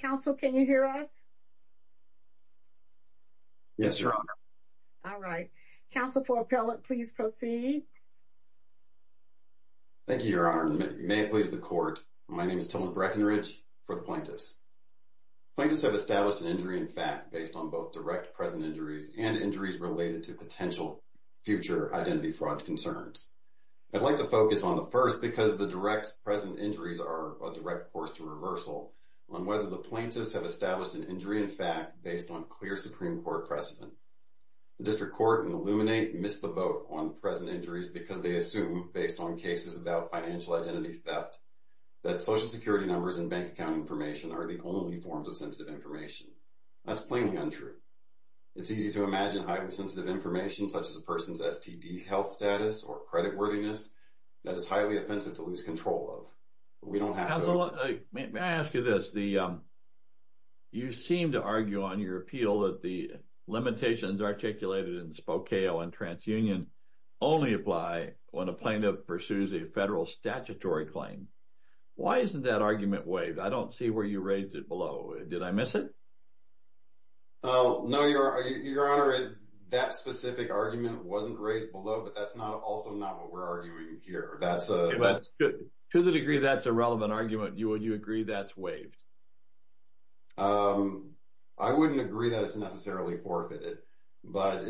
Counsel, can you hear us? Yes, Your Honor. All right. Counsel for Appellate, please proceed. Thank you, Your Honor. May it please the Court, my name is Tillman Breckinridge for the Plaintiffs. Plaintiffs have established an injury in fact based on both direct present injuries and injuries related to potential future identity fraud concerns. I'd like to focus on the first because the direct present injuries are a direct course to reversal on whether the plaintiffs have established an injury in fact based on clear Supreme Court precedent. The District Court and Illuminate missed the vote on present injuries because they assume, based on cases about financial identity theft, that Social Security numbers and bank account information are the only forms of sensitive information. That's plainly untrue. It's easy to imagine highly sensitive information such as a person's STD health status or credit worthiness that is highly offensive to lose control of. We don't have to... Counsel, may I ask you this? You seem to argue on your appeal that the limitations articulated in Spokeo and TransUnion only apply when a plaintiff pursues a federal statutory claim. Why isn't that argument waived? I don't see where you raised it below. Did I miss it? No, Your Honor. That specific argument wasn't raised below, but that's also not what we're arguing here. To the degree that's a relevant argument, would you agree that's waived? I wouldn't agree that it's necessarily forfeited. But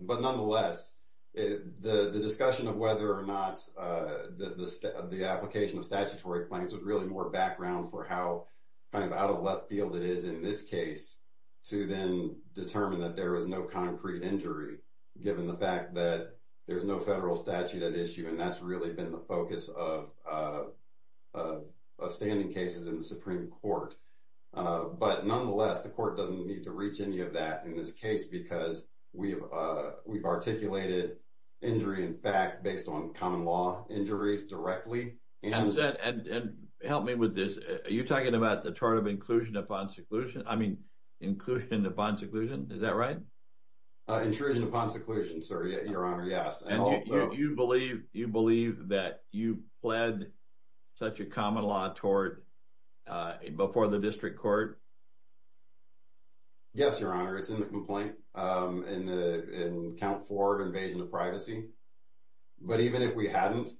nonetheless, the discussion of whether or not the application of statutory claims with really more background for how kind of out of left field it is in this case to then determine that there was no concrete injury given the fact that there's no federal statute at issue. And that's really been the focus of standing cases in the Supreme Court. But nonetheless, the court doesn't need to reach any of that in this case because we've articulated injury in fact based on common law injuries directly. And help me with this. Are you talking about the tort of inclusion upon seclusion? I mean, inclusion upon seclusion. Is that right? Intrusion upon seclusion, sir, Your Honor. Yes. And you believe that you pled such a common law tort before the district court? Yes, Your Honor. It's in the complaint in count four of invasion of privacy. But even if we hadn't,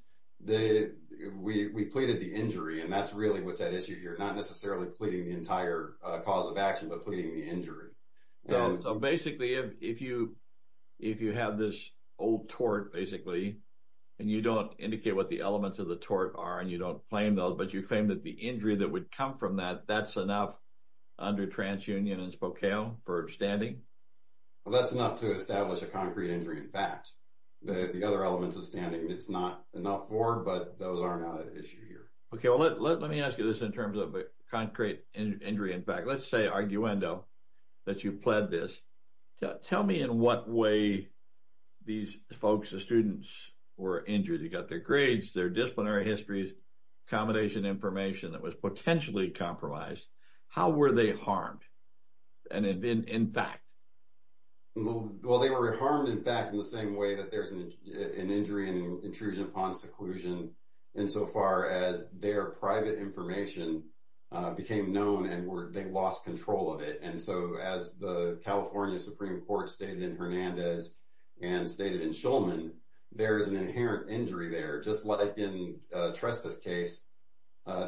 we pleaded the injury. And that's really what's at issue here, not necessarily pleading the entire cause of action but pleading the injury. So basically, if you have this old tort basically, and you don't indicate what the elements of the tort are and you don't claim those, but you claim that the injury that would come from that, that's enough under TransUnion and Spokane for standing? Well, that's enough to establish a concrete injury in fact. The other elements of standing it's not enough for, but those are not an issue here. Okay. Well, let me ask you this in terms of a concrete injury in fact. Let's say, arguendo, that you pled this. Tell me in what way these folks, the students, were injured. You got their grades, their disciplinary histories, accommodation information that was potentially compromised. How were they harmed? And in fact? Well, they were harmed in fact in the same way that there's an injury and intrusion upon seclusion in so far as their private information became known and they lost control of it. And so as the California Supreme Court stated in Hernandez and stated in Shulman, there is an inherent injury there. Just like in trespass case,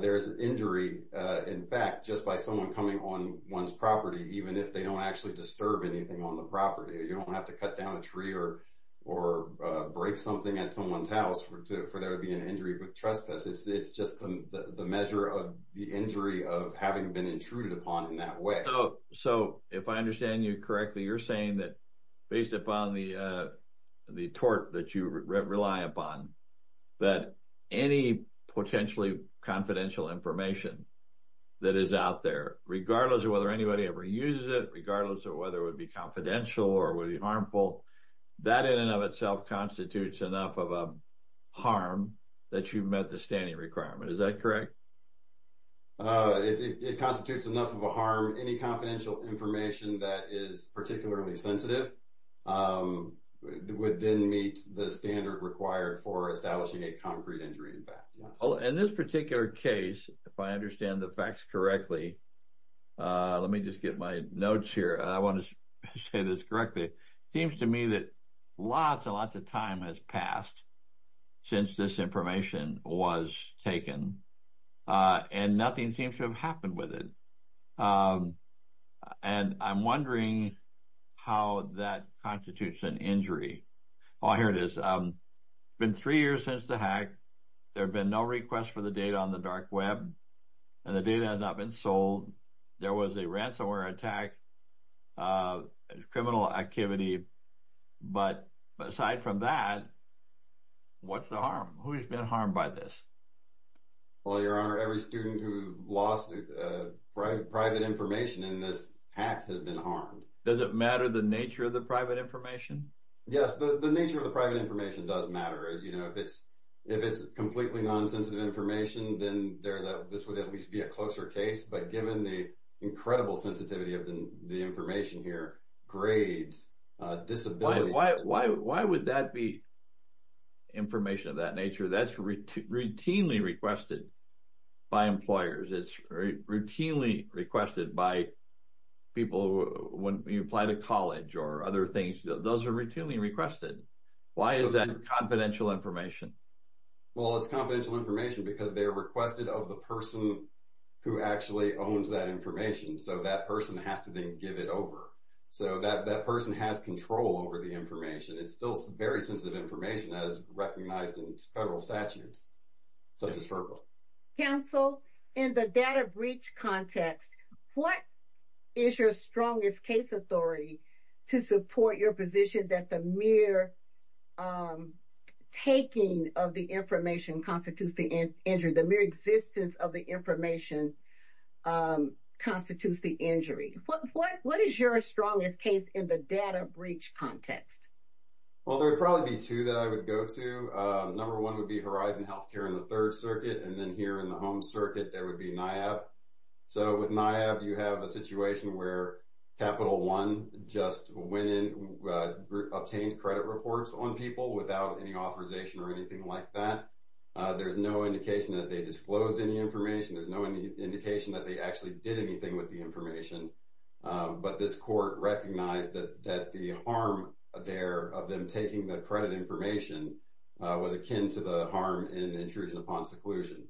there's injury in fact just by someone coming on one's property even if they don't actually disturb anything on the property. You don't have to cut down a tree or break something at someone's house for there to be an injury with trespass. It's just the measure of the injury of having been intruded upon in that way. So if I understand you correctly, you're saying that based upon the tort that you rely upon, that any potentially confidential information that is out there, regardless of whether anybody ever uses it, regardless of whether it would be confidential or would be harmful, that in and of itself constitutes enough of a harm that you've met the standing requirement. Is that correct? It constitutes enough of a harm. Any confidential information that is particularly sensitive would then meet the standard required for establishing a concrete injury in fact. In this particular case, if I understand the facts correctly, let me just get my notes here. I want to say this correctly. It seems to me that lots and lots of time has passed since this information was taken and nothing seems to have happened with it. And I'm wondering how that constitutes an injury. Oh, here it is. It's been three years since the hack. There have been no requests for the data on the dark web and the data has not been sold. There was a ransomware attack. There's criminal activity. But aside from that, what's the harm? Who's been harmed by this? Well, Your Honor, every student who lost private information in this hack has been harmed. Does it matter the nature of the private information? Yes, the nature of the private information does matter. If it's completely nonsensitive information, then this would at least be a closer case. But given the incredible sensitivity of the information here, grades, disability. Why would that be information of that nature? That's routinely requested by employers. It's routinely requested by people when you apply to college or other things. Those are routinely requested. Why is that confidential information? Well, it's confidential information because they are requested of the person who actually owns that information. So that person has to then give it over. So that person has control over the information. It's still very sensitive information as recognized in federal statutes, such as FERPA. Counsel, in the data breach context, what is your strongest case authority to support your position that the mere taking of the information constitutes the injury, the mere existence of the information constitutes the injury? What is your strongest case in the data breach context? Well, there would probably be two that I would go to. Number one would be Horizon Healthcare in the Third Circuit. And then here in the Home Circuit, there would be NIAB. So with NIAB, you have a situation where Capital One just went in, obtained credit reports on people without any authorization or anything like that. There's no indication that they disclosed any information. There's no indication that they actually did anything with the information. But this court recognized that the harm there of them taking the credit information was akin to the harm in intrusion upon seclusion.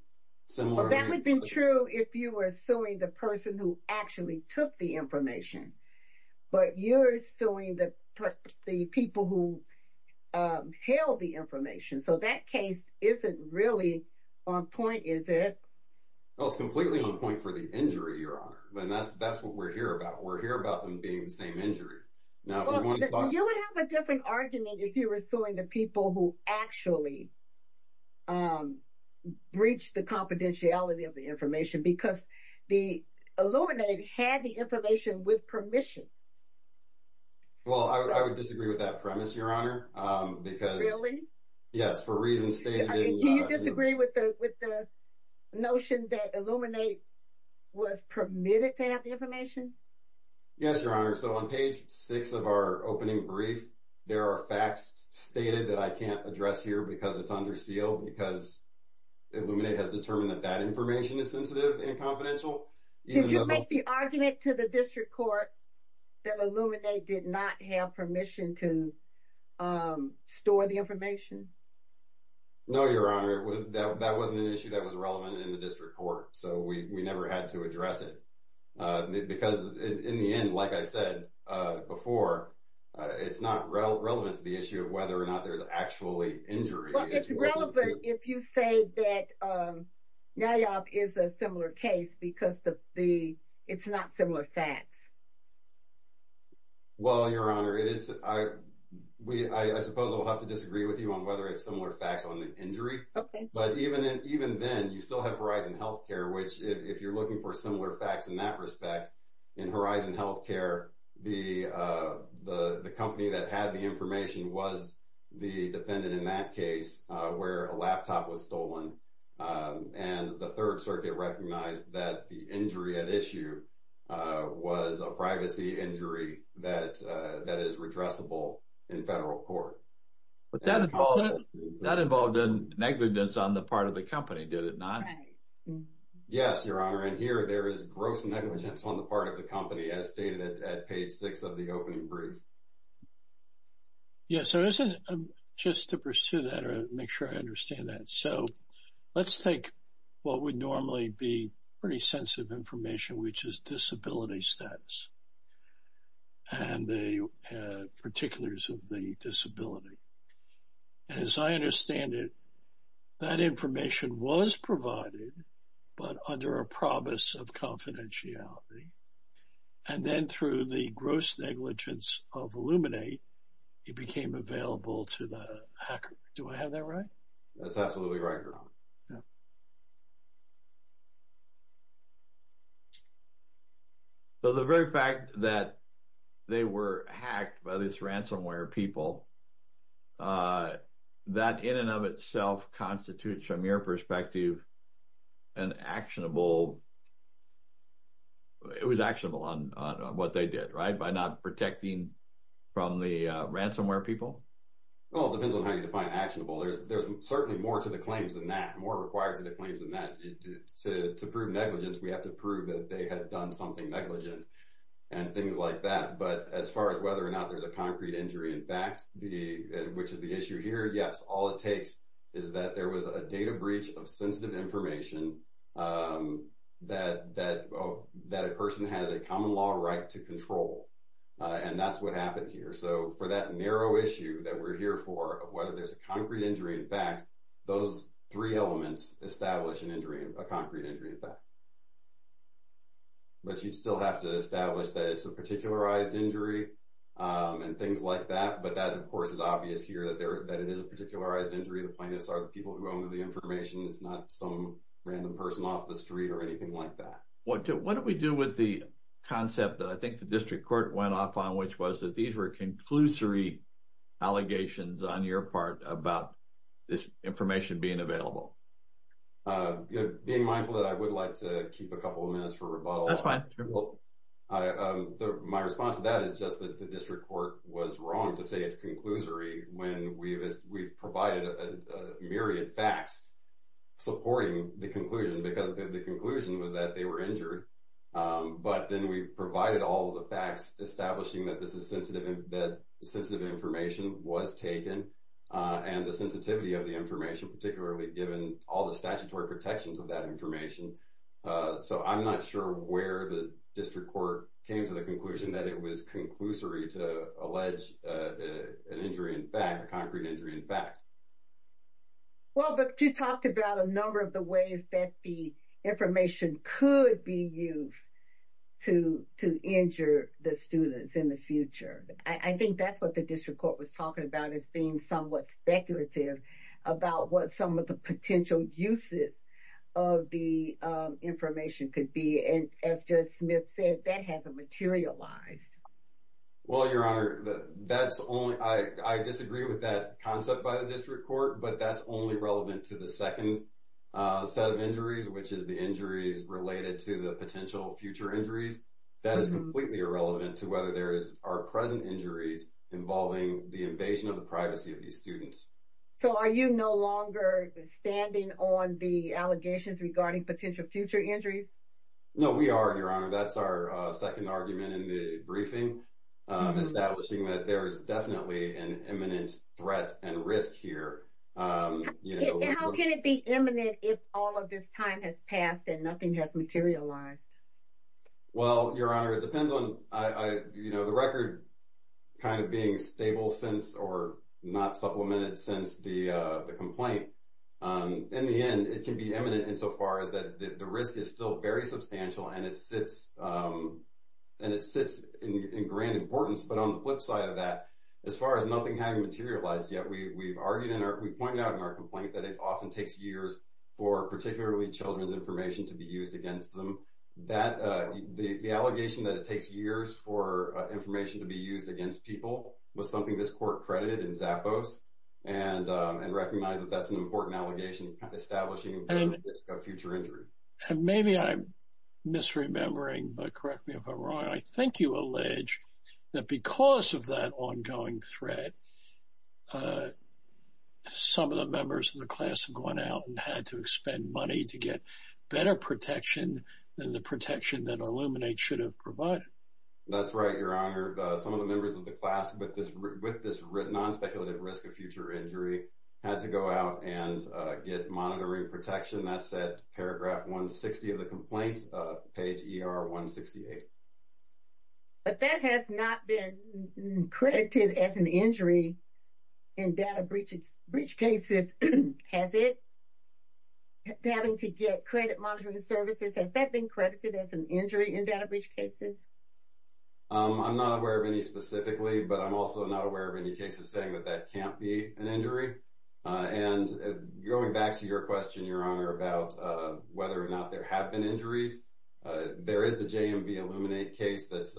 Well, that would be true if you were suing the person who actually took the information. But you're suing the people who held the information. So that case isn't really on point, is it? No, it's completely on point for the injury, Your Honor. And that's what we're here about. We're here about them being the same injury. You would have a different argument if you were suing the people who actually breached the confidentiality of the information because the Illuminate had the information with permission. Well, I would disagree with that premise, Your Honor. Really? Yes, for reasons stated. Do you disagree with the notion that Illuminate was permitted to have the information? Yes, Your Honor. So on page 6 of our opening brief, there are facts stated that I can't address here because it's under seal because Illuminate has determined that that information is sensitive and confidential. Did you make the argument to the district court that Illuminate did not have permission to store the information? No, Your Honor. That wasn't an issue that was relevant in the district court. So we never had to address it. Because in the end, like I said before, it's not relevant to the issue of whether or not there's actually injury. Well, it's relevant if you say that NAYAC is a similar case because it's not similar facts. Well, Your Honor, I suppose I'll have to disagree with you on whether it's similar facts on the injury. Okay. But even then, you still have Horizon Healthcare, which if you're looking for similar facts in that respect, in Horizon Healthcare, the company that had the information was the defendant in that case where a laptop was stolen. And the Third Circuit recognized that the injury at issue was a privacy injury that is redressable in federal court. But that involved negligence on the part of the company, did it not? Yes, Your Honor. And here there is gross negligence on the part of the company as stated at page six of the opening brief. Yes. So just to pursue that or make sure I understand that. So let's take what would normally be pretty sensitive information, which is disability status and the particulars of the disability. And as I understand it, that information was provided, but under a promise of confidentiality. And then through the gross negligence of Illuminate, it became available to the hacker. Do I have that right? That's absolutely right, Your Honor. Yeah. So the very fact that they were hacked by this ransomware people, that in and of itself constitutes from your perspective an actionable, it was actionable on what they did, right? By not protecting from the ransomware people? Well, it depends on how you define actionable. There's certainly more to the claims than that, more required to the claims than that. To prove negligence, we have to prove that they had done something negligent and things like that. But as far as whether or not there's a concrete injury, in fact, which is the issue here, yes, all it takes is that there was a data breach of sensitive information that a person has a common law right to control. And that's what happened here. So for that narrow issue that we're here for, of whether there's a concrete injury, in fact, those three elements establish an injury, a concrete injury, in fact. But you'd still have to establish that it's a particularized injury and things like that. But that, of course, is obvious here that it is a particularized injury. The plaintiffs are the people who own the information. It's not some random person off the street or anything like that. What do we do with the concept that I think the district court went off on, which was that these were conclusory allegations on your part about this information being available? Being mindful that I would like to keep a couple of minutes for rebuttal. That's fine. My response to that is just that the district court was wrong to say it's conclusory when we've provided a myriad facts supporting the conclusion because the conclusion was that they were injured. But then we provided all the facts establishing that this is sensitive and that sensitive information was taken. And the sensitivity of the information, particularly given all the statutory protections of that information. So I'm not sure where the district court came to the conclusion that it was conclusory to allege an injury in fact, a concrete injury in fact. Well, but you talked about a number of the ways that the information could be used to injure the students in the future. I think that's what the district court was talking about is being somewhat speculative about what some of the potential uses of the information could be. And as Judge Smith said, that hasn't materialized. Well, Your Honor, I disagree with that concept by the district court, but that's only relevant to the second set of injuries, which is the injuries related to the potential future injuries. That is completely irrelevant to whether there are present injuries involving the invasion of the privacy of these students. So are you no longer standing on the allegations regarding potential future injuries? No, we are, Your Honor. That's our second argument in the briefing, establishing that there is definitely an imminent threat and risk here. How can it be imminent if all of this time has passed and nothing has materialized? Well, Your Honor, it depends on, you know, the record kind of being stable since or not supplemented since the complaint. In the end, it can be imminent insofar as that the risk is still very substantial and it sits in grand importance. But on the flip side of that, as far as nothing having materialized yet, we pointed out in our complaint that it often takes years for particularly children's information to be used against them. So that the allegation that it takes years for information to be used against people was something this court credited in Zappos and recognize that that's an important allegation establishing a future injury. Maybe I'm misremembering, but correct me if I'm wrong. I think you allege that because of that ongoing threat, some of the members of the class have gone out and had to expend money to get better protection than the protection that Illuminate should have provided. That's right, Your Honor. Some of the members of the class with this non-speculative risk of future injury had to go out and get monitoring protection. That said, paragraph 160 of the complaint, page ER 168. But that has not been credited as an injury in data breach cases, has it? Having to get credit monitoring services, has that been credited as an injury in data breach cases? I'm not aware of any specifically, but I'm also not aware of any cases saying that that can't be an injury. And going back to your question, Your Honor, about whether or not there have been injuries. There is the JMV Illuminate case that's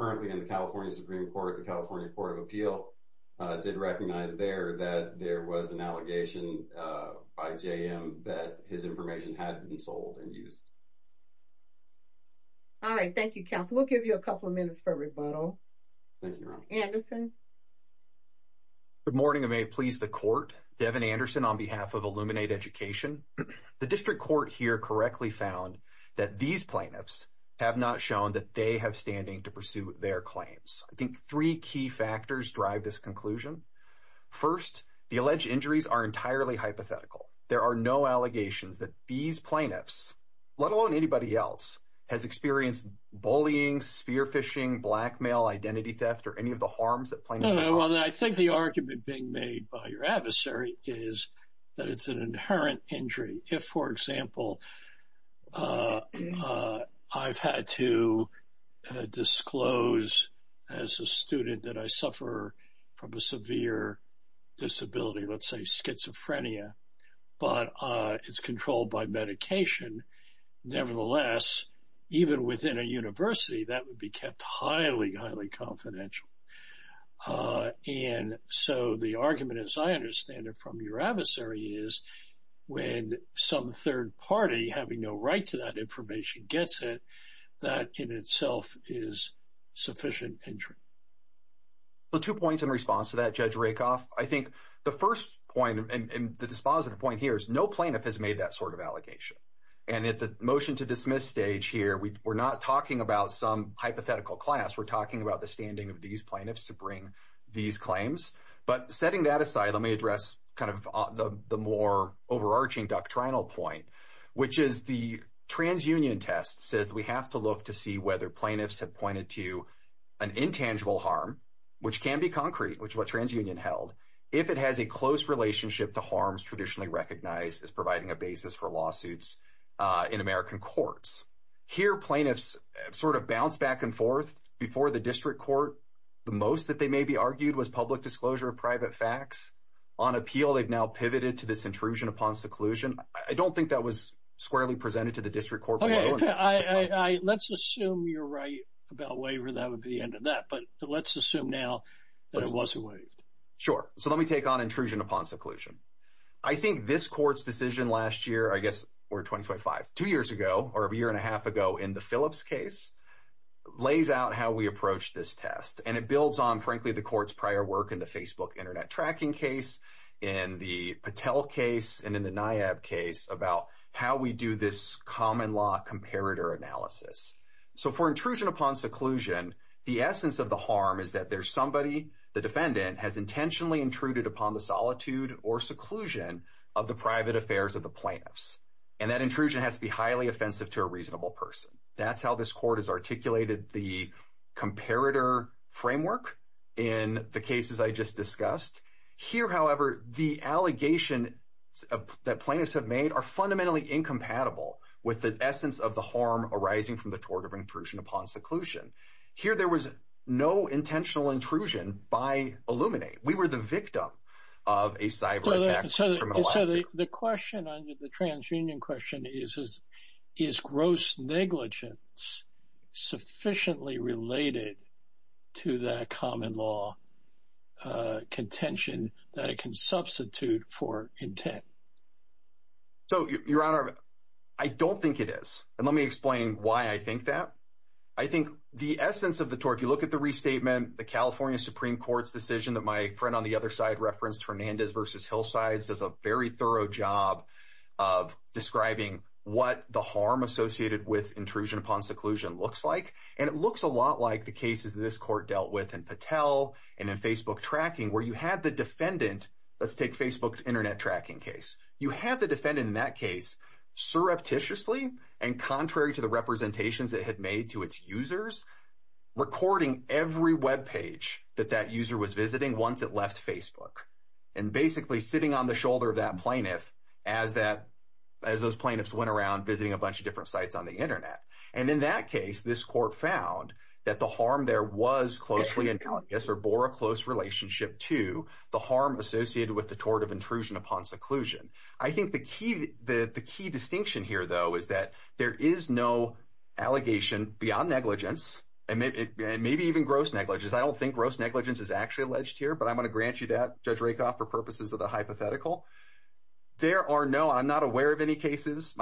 currently in the California Supreme Court, the California Court of Appeal did recognize there that there was an allegation by JM that his information had been sold and used. All right. Thank you, counsel. We'll give you a couple of minutes for rebuttal. Anderson. Good morning, and may it please the court. Devin Anderson on behalf of Illuminate Education. The district court here correctly found that these plaintiffs have not shown that they have standing to pursue their claims. I think three key factors drive this conclusion. First, the alleged injuries are entirely hypothetical. There are no allegations that these plaintiffs, let alone anybody else, has experienced bullying, spear phishing, blackmail, identity theft, or any of the harms that plaintiffs have caused. As a student that I suffer from a severe disability, let's say schizophrenia, but it's controlled by medication. Nevertheless, even within a university, that would be kept highly, highly confidential. And so the argument, as I understand it from your adversary, is when some third party having no right to that information gets it, that in itself is sufficient injury. Two points in response to that, Judge Rakoff. I think the first point, and the dispositive point here, is no plaintiff has made that sort of allegation. And at the motion to dismiss stage here, we're not talking about some hypothetical class. We're talking about the standing of these plaintiffs to bring these claims. But setting that aside, let me address kind of the more overarching doctrinal point, which is the transunion test says we have to look to see whether plaintiffs have pointed to an intangible harm, which can be concrete, which is what transunion held. If it has a close relationship to harms traditionally recognized as providing a basis for lawsuits in American courts. Here, plaintiffs sort of bounce back and forth before the district court. The most that they may be argued was public disclosure of private facts. On appeal, they've now pivoted to this intrusion upon seclusion. I don't think that was squarely presented to the district court. Let's assume you're right about waiver. That would be the end of that. But let's assume now that it wasn't waived. Sure. So let me take on intrusion upon seclusion. I think this court's decision last year, I guess we're 25, two years ago or a year and a half ago in the Phillips case, lays out how we approach this test. And it builds on, frankly, the court's prior work in the Facebook Internet tracking case and the Patel case and in the NIAB case about how we do this common law comparator analysis. So for intrusion upon seclusion, the essence of the harm is that there's somebody, the defendant, has intentionally intruded upon the solitude or seclusion of the private affairs of the plaintiffs. And that intrusion has to be highly offensive to a reasonable person. That's how this court has articulated the comparator framework in the cases I just discussed. Here, however, the allegations that plaintiffs have made are fundamentally incompatible with the essence of the harm arising from the tort of intrusion upon seclusion. Here there was no intentional intrusion by Illuminate. We were the victim of a cyber attack. So the question on the transunion question is, is gross negligence sufficiently related to that common law contention that it can substitute for intent? So, Your Honor, I don't think it is. And let me explain why I think that. I think the essence of the tort, if you look at the restatement, the California Supreme Court's decision that my friend on the other side referenced Fernandez versus Hillsides, does a very thorough job of describing what the harm associated with intrusion upon seclusion looks like. And it looks a lot like the cases this court dealt with in Patel and in Facebook tracking where you had the defendant, let's take Facebook Internet tracking case. You had the defendant in that case surreptitiously and contrary to the representations it had made to its users, recording every web page that that user was visiting once it left Facebook. And basically sitting on the shoulder of that plaintiff as those plaintiffs went around visiting a bunch of different sites on the Internet. And in that case, this court found that the harm there was closely or bore a close relationship to the harm associated with the tort of intrusion upon seclusion. I think the key distinction here, though, is that there is no allegation beyond negligence and maybe even gross negligence. I don't think gross negligence is actually alleged here, but I'm going to grant you that, Judge Rakoff, for purposes of the hypothetical. There are no, I'm not aware of any cases,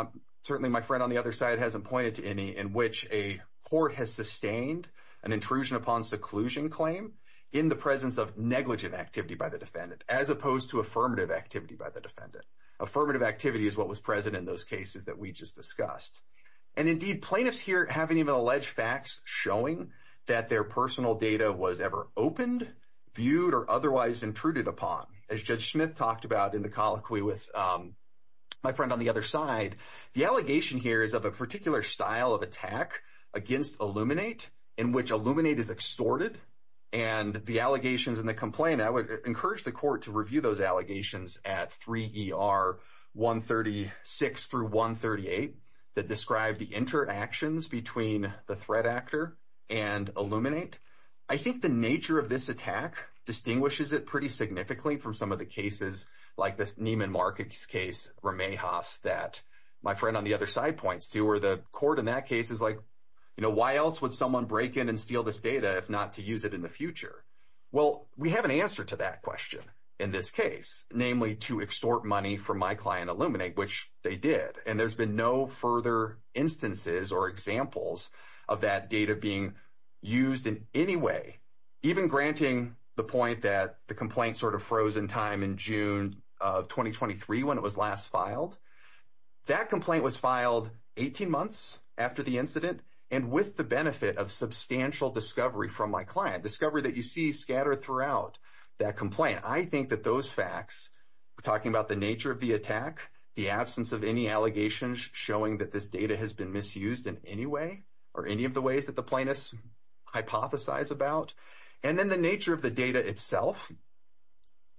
certainly my friend on the other side hasn't pointed to any, in which a court has sustained an intrusion upon seclusion claim in the presence of negligent activity by the defendant, as opposed to affirmative activity by the defendant. Affirmative activity is what was present in those cases that we just discussed. And indeed, plaintiffs here haven't even alleged facts showing that their personal data was ever opened, viewed, or otherwise intruded upon. As Judge Smith talked about in the colloquy with my friend on the other side, the allegation here is of a particular style of attack against Illuminate, in which Illuminate is extorted. And the allegations and the complaint, I would encourage the court to review those allegations at 3 ER 136 through 138, that describe the interactions between the threat actor and Illuminate. I think the nature of this attack distinguishes it pretty significantly from some of the cases, like this Neiman Marcus case, Ramejas, that my friend on the other side points to, where the court in that case is like, you know, why else would someone break in and steal this data if not to use it in the future? Well, we have an answer to that question in this case, namely to extort money from my client Illuminate, which they did. And there's been no further instances or examples of that data being used in any way, even granting the point that the complaint sort of froze in time in June of 2023 when it was last filed. That complaint was filed 18 months after the incident and with the benefit of substantial discovery from my client, discovery that you see scattered throughout that complaint. And I think that those facts, talking about the nature of the attack, the absence of any allegations showing that this data has been misused in any way, or any of the ways that the plaintiffs hypothesize about, and then the nature of the data itself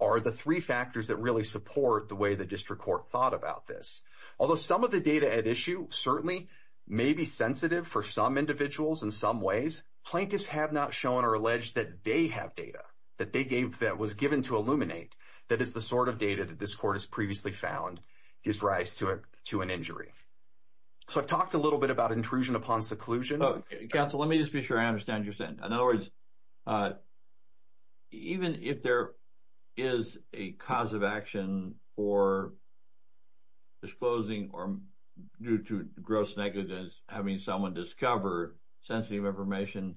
are the three factors that really support the way the district court thought about this. Although some of the data at issue certainly may be sensitive for some individuals in some ways, plaintiffs have not shown or alleged that they have data that was given to Illuminate that is the sort of data that this court has previously found gives rise to an injury. So I've talked a little bit about intrusion upon seclusion. Counsel, let me just be sure I understand what you're saying. In other words, even if there is a cause of action for disclosing or due to gross negligence, having someone discover sensitive information,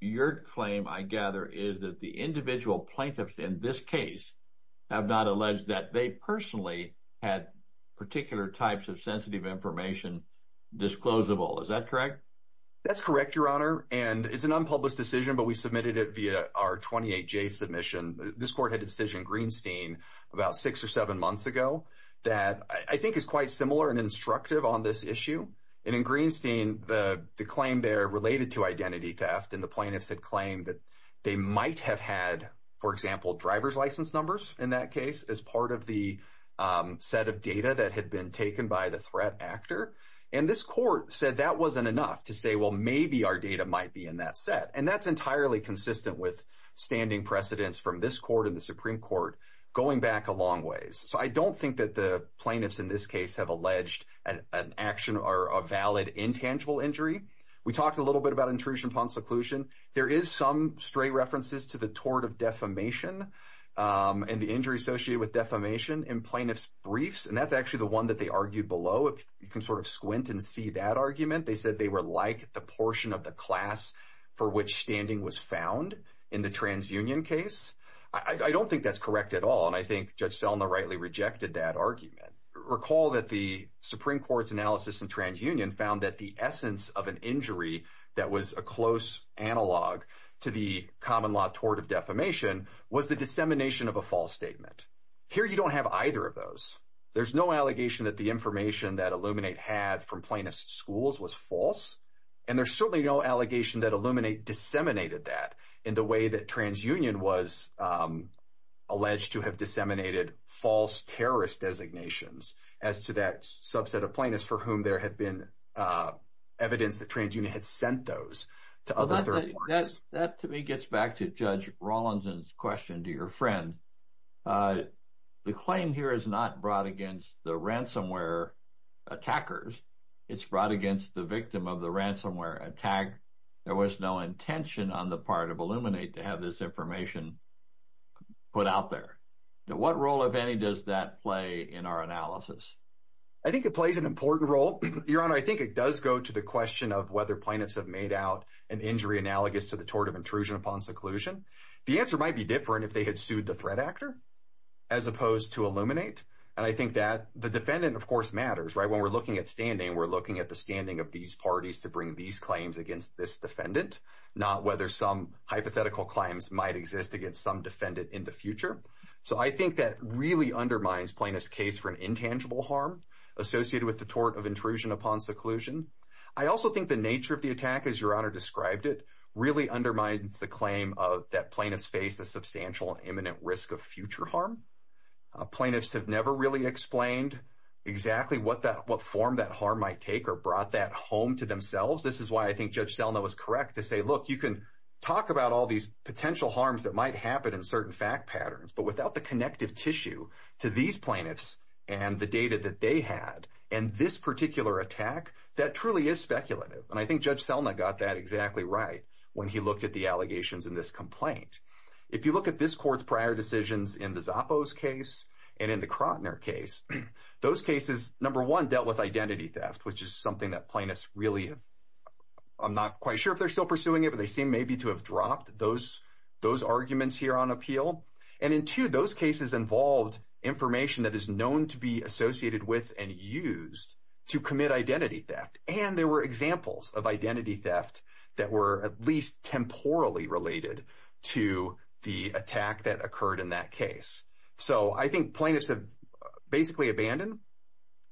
your claim, I gather, is that the individual plaintiffs in this case have not alleged that they personally had particular types of sensitive information disclosable. Is that correct? That's correct, Your Honor. And it's an unpublished decision, but we submitted it via our 28-J submission. This court had a decision in Greenstein about six or seven months ago that I think is quite similar and instructive on this issue. And in Greenstein, the claim there related to identity theft, and the plaintiffs had claimed that they might have had, for example, driver's license numbers in that case as part of the set of data that had been taken by the threat actor. And this court said that wasn't enough to say, well, maybe our data might be in that set. And that's entirely consistent with standing precedents from this court and the Supreme Court going back a long ways. So I don't think that the plaintiffs in this case have alleged an action or a valid intangible injury. We talked a little bit about intrusion upon seclusion. There is some stray references to the tort of defamation and the injury associated with defamation in plaintiffs' briefs, and that's actually the one that they argued below. You can sort of squint and see that argument. They said they were like the portion of the class for which standing was found in the transunion case. I don't think that's correct at all, and I think Judge Selma rightly rejected that argument. Recall that the Supreme Court's analysis in transunion found that the essence of an injury that was a close analog to the common law tort of defamation was the dissemination of a false statement. Here you don't have either of those. There's no allegation that the information that Illuminate had from plaintiffs' schools was false, and there's certainly no allegation that Illuminate disseminated that in the way that transunion was alleged to have disseminated false terrorist designations as to that subset of plaintiffs for whom there had been evidence that transunion had sent those to other authorities. That to me gets back to Judge Rawlinson's question to your friend. The claim here is not brought against the ransomware attackers. It's brought against the victim of the ransomware attack. There was no intention on the part of Illuminate to have this information put out there. What role, if any, does that play in our analysis? I think it plays an important role. Your Honor, I think it does go to the question of whether plaintiffs have made out an injury analogous to the tort of intrusion upon seclusion. The answer might be different if they had sued the threat actor as opposed to Illuminate. I think that the defendant, of course, matters. When we're looking at standing, we're looking at the standing of these parties to bring these claims against this defendant, not whether some hypothetical claims might exist against some defendant in the future. I think that really undermines plaintiffs' case for an intangible harm associated with the tort of intrusion upon seclusion. I also think the nature of the attack, as Your Honor described it, really undermines the claim that plaintiffs faced a substantial and imminent risk of future harm. Plaintiffs have never really explained exactly what form that harm might take or brought that home to themselves. This is why I think Judge Selna was correct to say, look, you can talk about all these potential harms that might happen in certain fact patterns, but without the connective tissue to these plaintiffs and the data that they had and this particular attack, that truly is speculative. I think Judge Selna got that exactly right when he looked at the allegations in this complaint. If you look at this court's prior decisions in the Zappos case and in the Krotner case, those cases, number one, dealt with identity theft, which is something that plaintiffs really have, I'm not quite sure if they're still pursuing it, but they seem maybe to have dropped those arguments here on appeal. And in two, those cases involved information that is known to be associated with and used to commit identity theft, and there were examples of identity theft that were at least temporally related to the attack that occurred in that case. So I think plaintiffs have basically abandoned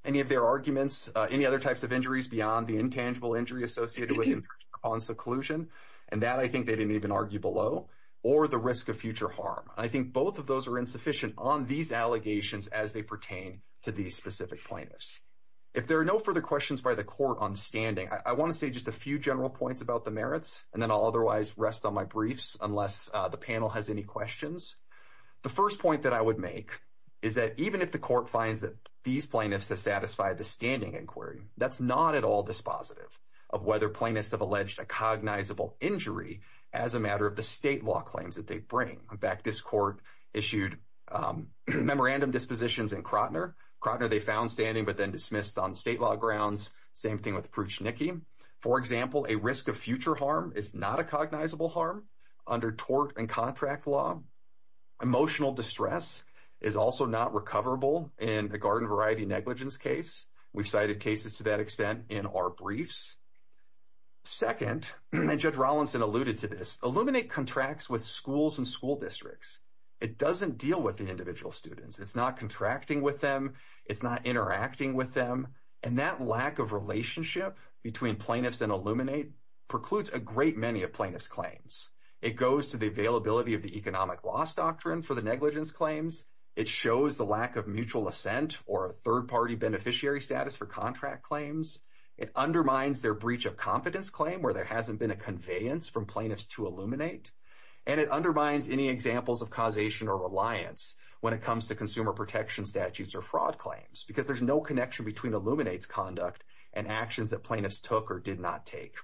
any of their arguments, any other types of injuries beyond the intangible injury associated with interest upon seclusion, and that I think they didn't even argue below, or the risk of future harm. I think both of those are insufficient on these allegations as they pertain to these specific plaintiffs. If there are no further questions by the court on standing, I want to say just a few general points about the merits, and then I'll otherwise rest on my briefs unless the panel has any questions. The first point that I would make is that even if the court finds that these plaintiffs have satisfied the standing inquiry, that's not at all dispositive of whether plaintiffs have alleged a cognizable injury as a matter of the state law claims that they bring. In fact, this court issued memorandum dispositions in Krotner. Krotner they found standing but then dismissed on state law grounds. Same thing with Prushniki. For example, a risk of future harm is not a cognizable harm under tort and contract law. Emotional distress is also not recoverable in a garden variety negligence case. We've cited cases to that extent in our briefs. Second, and Judge Rollinson alluded to this, Illuminate contracts with schools and school districts. It doesn't deal with the individual students. It's not contracting with them. It's not interacting with them. And that lack of relationship between plaintiffs and Illuminate precludes a great many of plaintiffs' claims. It goes to the availability of the economic loss doctrine for the negligence claims. It shows the lack of mutual assent or a third-party beneficiary status for contract claims. It undermines their breach of confidence claim where there hasn't been a conveyance from plaintiffs to Illuminate. And it undermines any examples of causation or reliance when it comes to consumer protection statutes or fraud claims because there's no connection between Illuminate's conduct and actions that plaintiffs took or did not take.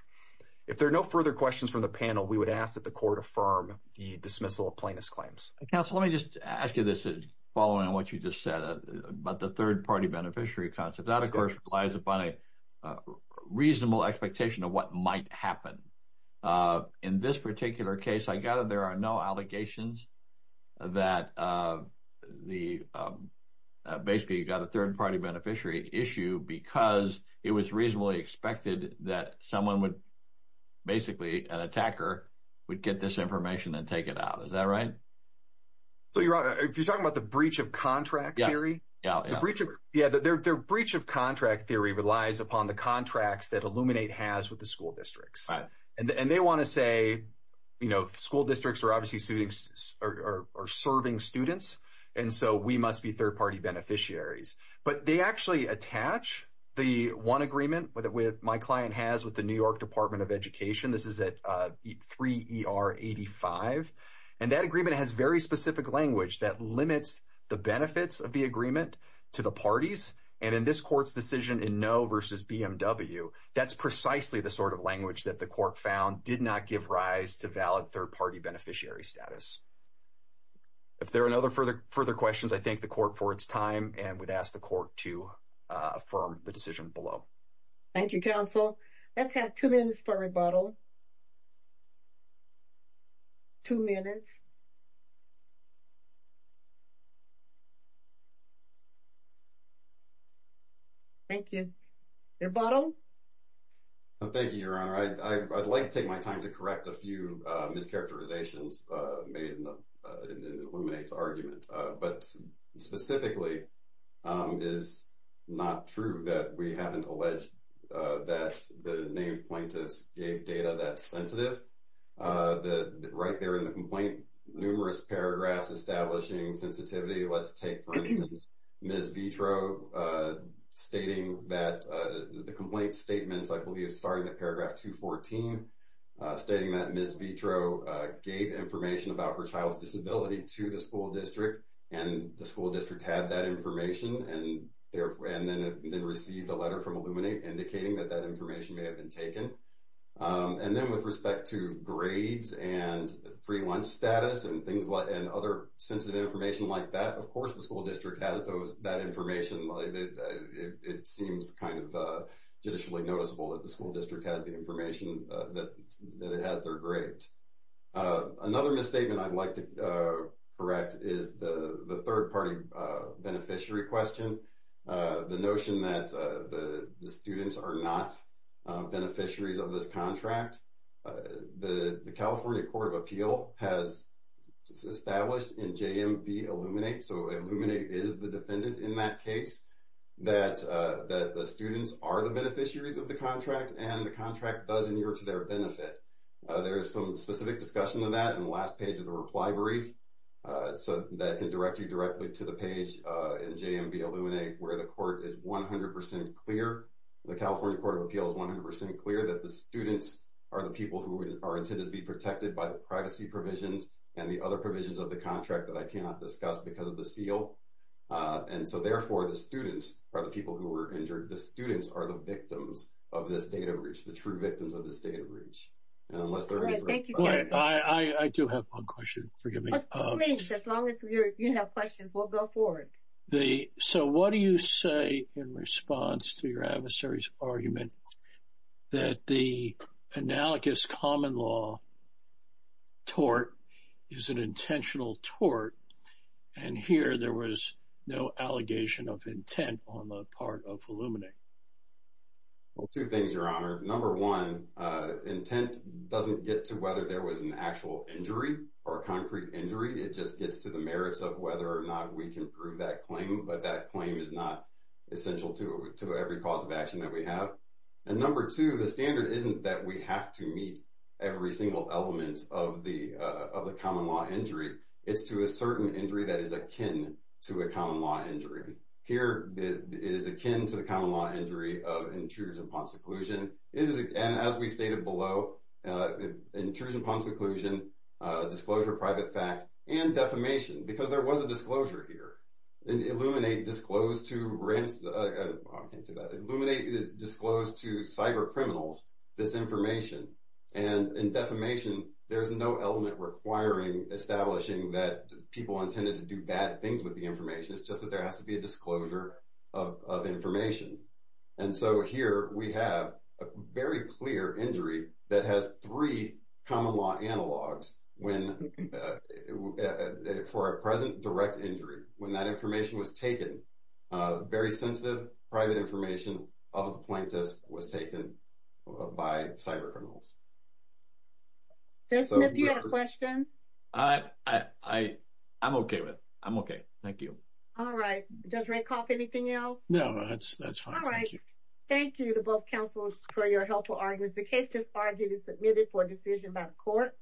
If there are no further questions from the panel, we would ask that the Court affirm the dismissal of plaintiffs' claims. Counsel, let me just ask you this following on what you just said about the third-party beneficiary concept. That, of course, relies upon a reasonable expectation of what might happen. In this particular case, I gather there are no allegations that the basically you've got a third-party beneficiary issue because it was reasonably expected that someone would basically, an attacker, would get this information and take it out. Is that right? If you're talking about the breach of contract theory, their breach of contract theory relies upon the contracts that Illuminate has with the school districts. And they want to say school districts are obviously serving students, and so we must be third-party beneficiaries. But they actually attach the one agreement that my client has with the New York Department of Education. This is at 3ER85. And that agreement has very specific language that limits the benefits of the agreement to the parties. And in this Court's decision in No v. BMW, that's precisely the sort of language that the Court found did not give rise to valid third-party beneficiary status. If there are no further questions, I thank the Court for its time and would ask the Court to affirm the decision below. Thank you, Counsel. Let's have two minutes for rebuttal. Two minutes. Thank you. Rebuttal? Thank you, Your Honor. I'd like to take my time to correct a few mischaracterizations made in Illuminate's argument. But specifically, it is not true that we haven't alleged that the named plaintiffs gave data that's sensitive. Right there in the complaint, numerous paragraphs establishing sensitivity. Let's take, for instance, Ms. Vitro stating that the complaint statements, I believe, starting at paragraph 214, stating that Ms. Vitro gave information about her child's disability to the school district and the school district had that information and then received a letter from Illuminate indicating that that information may have been taken. And then with respect to grades and free lunch status and other sensitive information like that, of course the school district has that information. It seems kind of judicially noticeable that the school district has the information that it has their grades. Another misstatement I'd like to correct is the third-party beneficiary question, the notion that the students are not beneficiaries of this contract. The California Court of Appeal has established in JMV Illuminate, so Illuminate is the defendant in that case, that the students are the beneficiaries of the contract and the contract does endure to their benefit. There is some specific discussion on that in the last page of the reply brief that can direct you directly to the page in JMV Illuminate where the court is 100% clear. The California Court of Appeal is 100% clear that the students are the people who are intended to be protected by the privacy provisions and the other provisions of the contract that I cannot discuss because of the seal. And so, therefore, the students are the people who were injured. The students are the victims of this data breach, and unless there are any further questions. I do have one question, forgive me. Please, as long as you have questions, we'll go forward. So what do you say in response to your adversary's argument that the analogous common law tort is an intentional tort and here there was no allegation of intent on the part of Illuminate? Two things, Your Honor. Number one, intent doesn't get to whether there was an actual injury or a concrete injury. It just gets to the merits of whether or not we can prove that claim, but that claim is not essential to every cause of action that we have. And number two, the standard isn't that we have to meet every single element of the common law injury. It's to a certain injury that is akin to a common law injury. Here it is akin to the common law injury of intrusion upon seclusion. And as we stated below, intrusion upon seclusion, disclosure, private fact, and defamation, because there was a disclosure here. And Illuminate disclosed to cyber criminals this information. And in defamation, there's no element requiring, establishing that people intended to do bad things with the information. It's just that there has to be a disclosure of information. And so here we have a very clear injury that has three common law analogs for a present direct injury. When that information was taken, very sensitive private information of a plaintiff was taken by cyber criminals. Justin, if you had a question. I'm okay with it. I'm okay. Thank you. All right. Judge Rakoff, anything else? No, that's fine. Thank you. All right. Thank you to both counsels for your helpful arguments. The case to argue is submitted for decision by the court.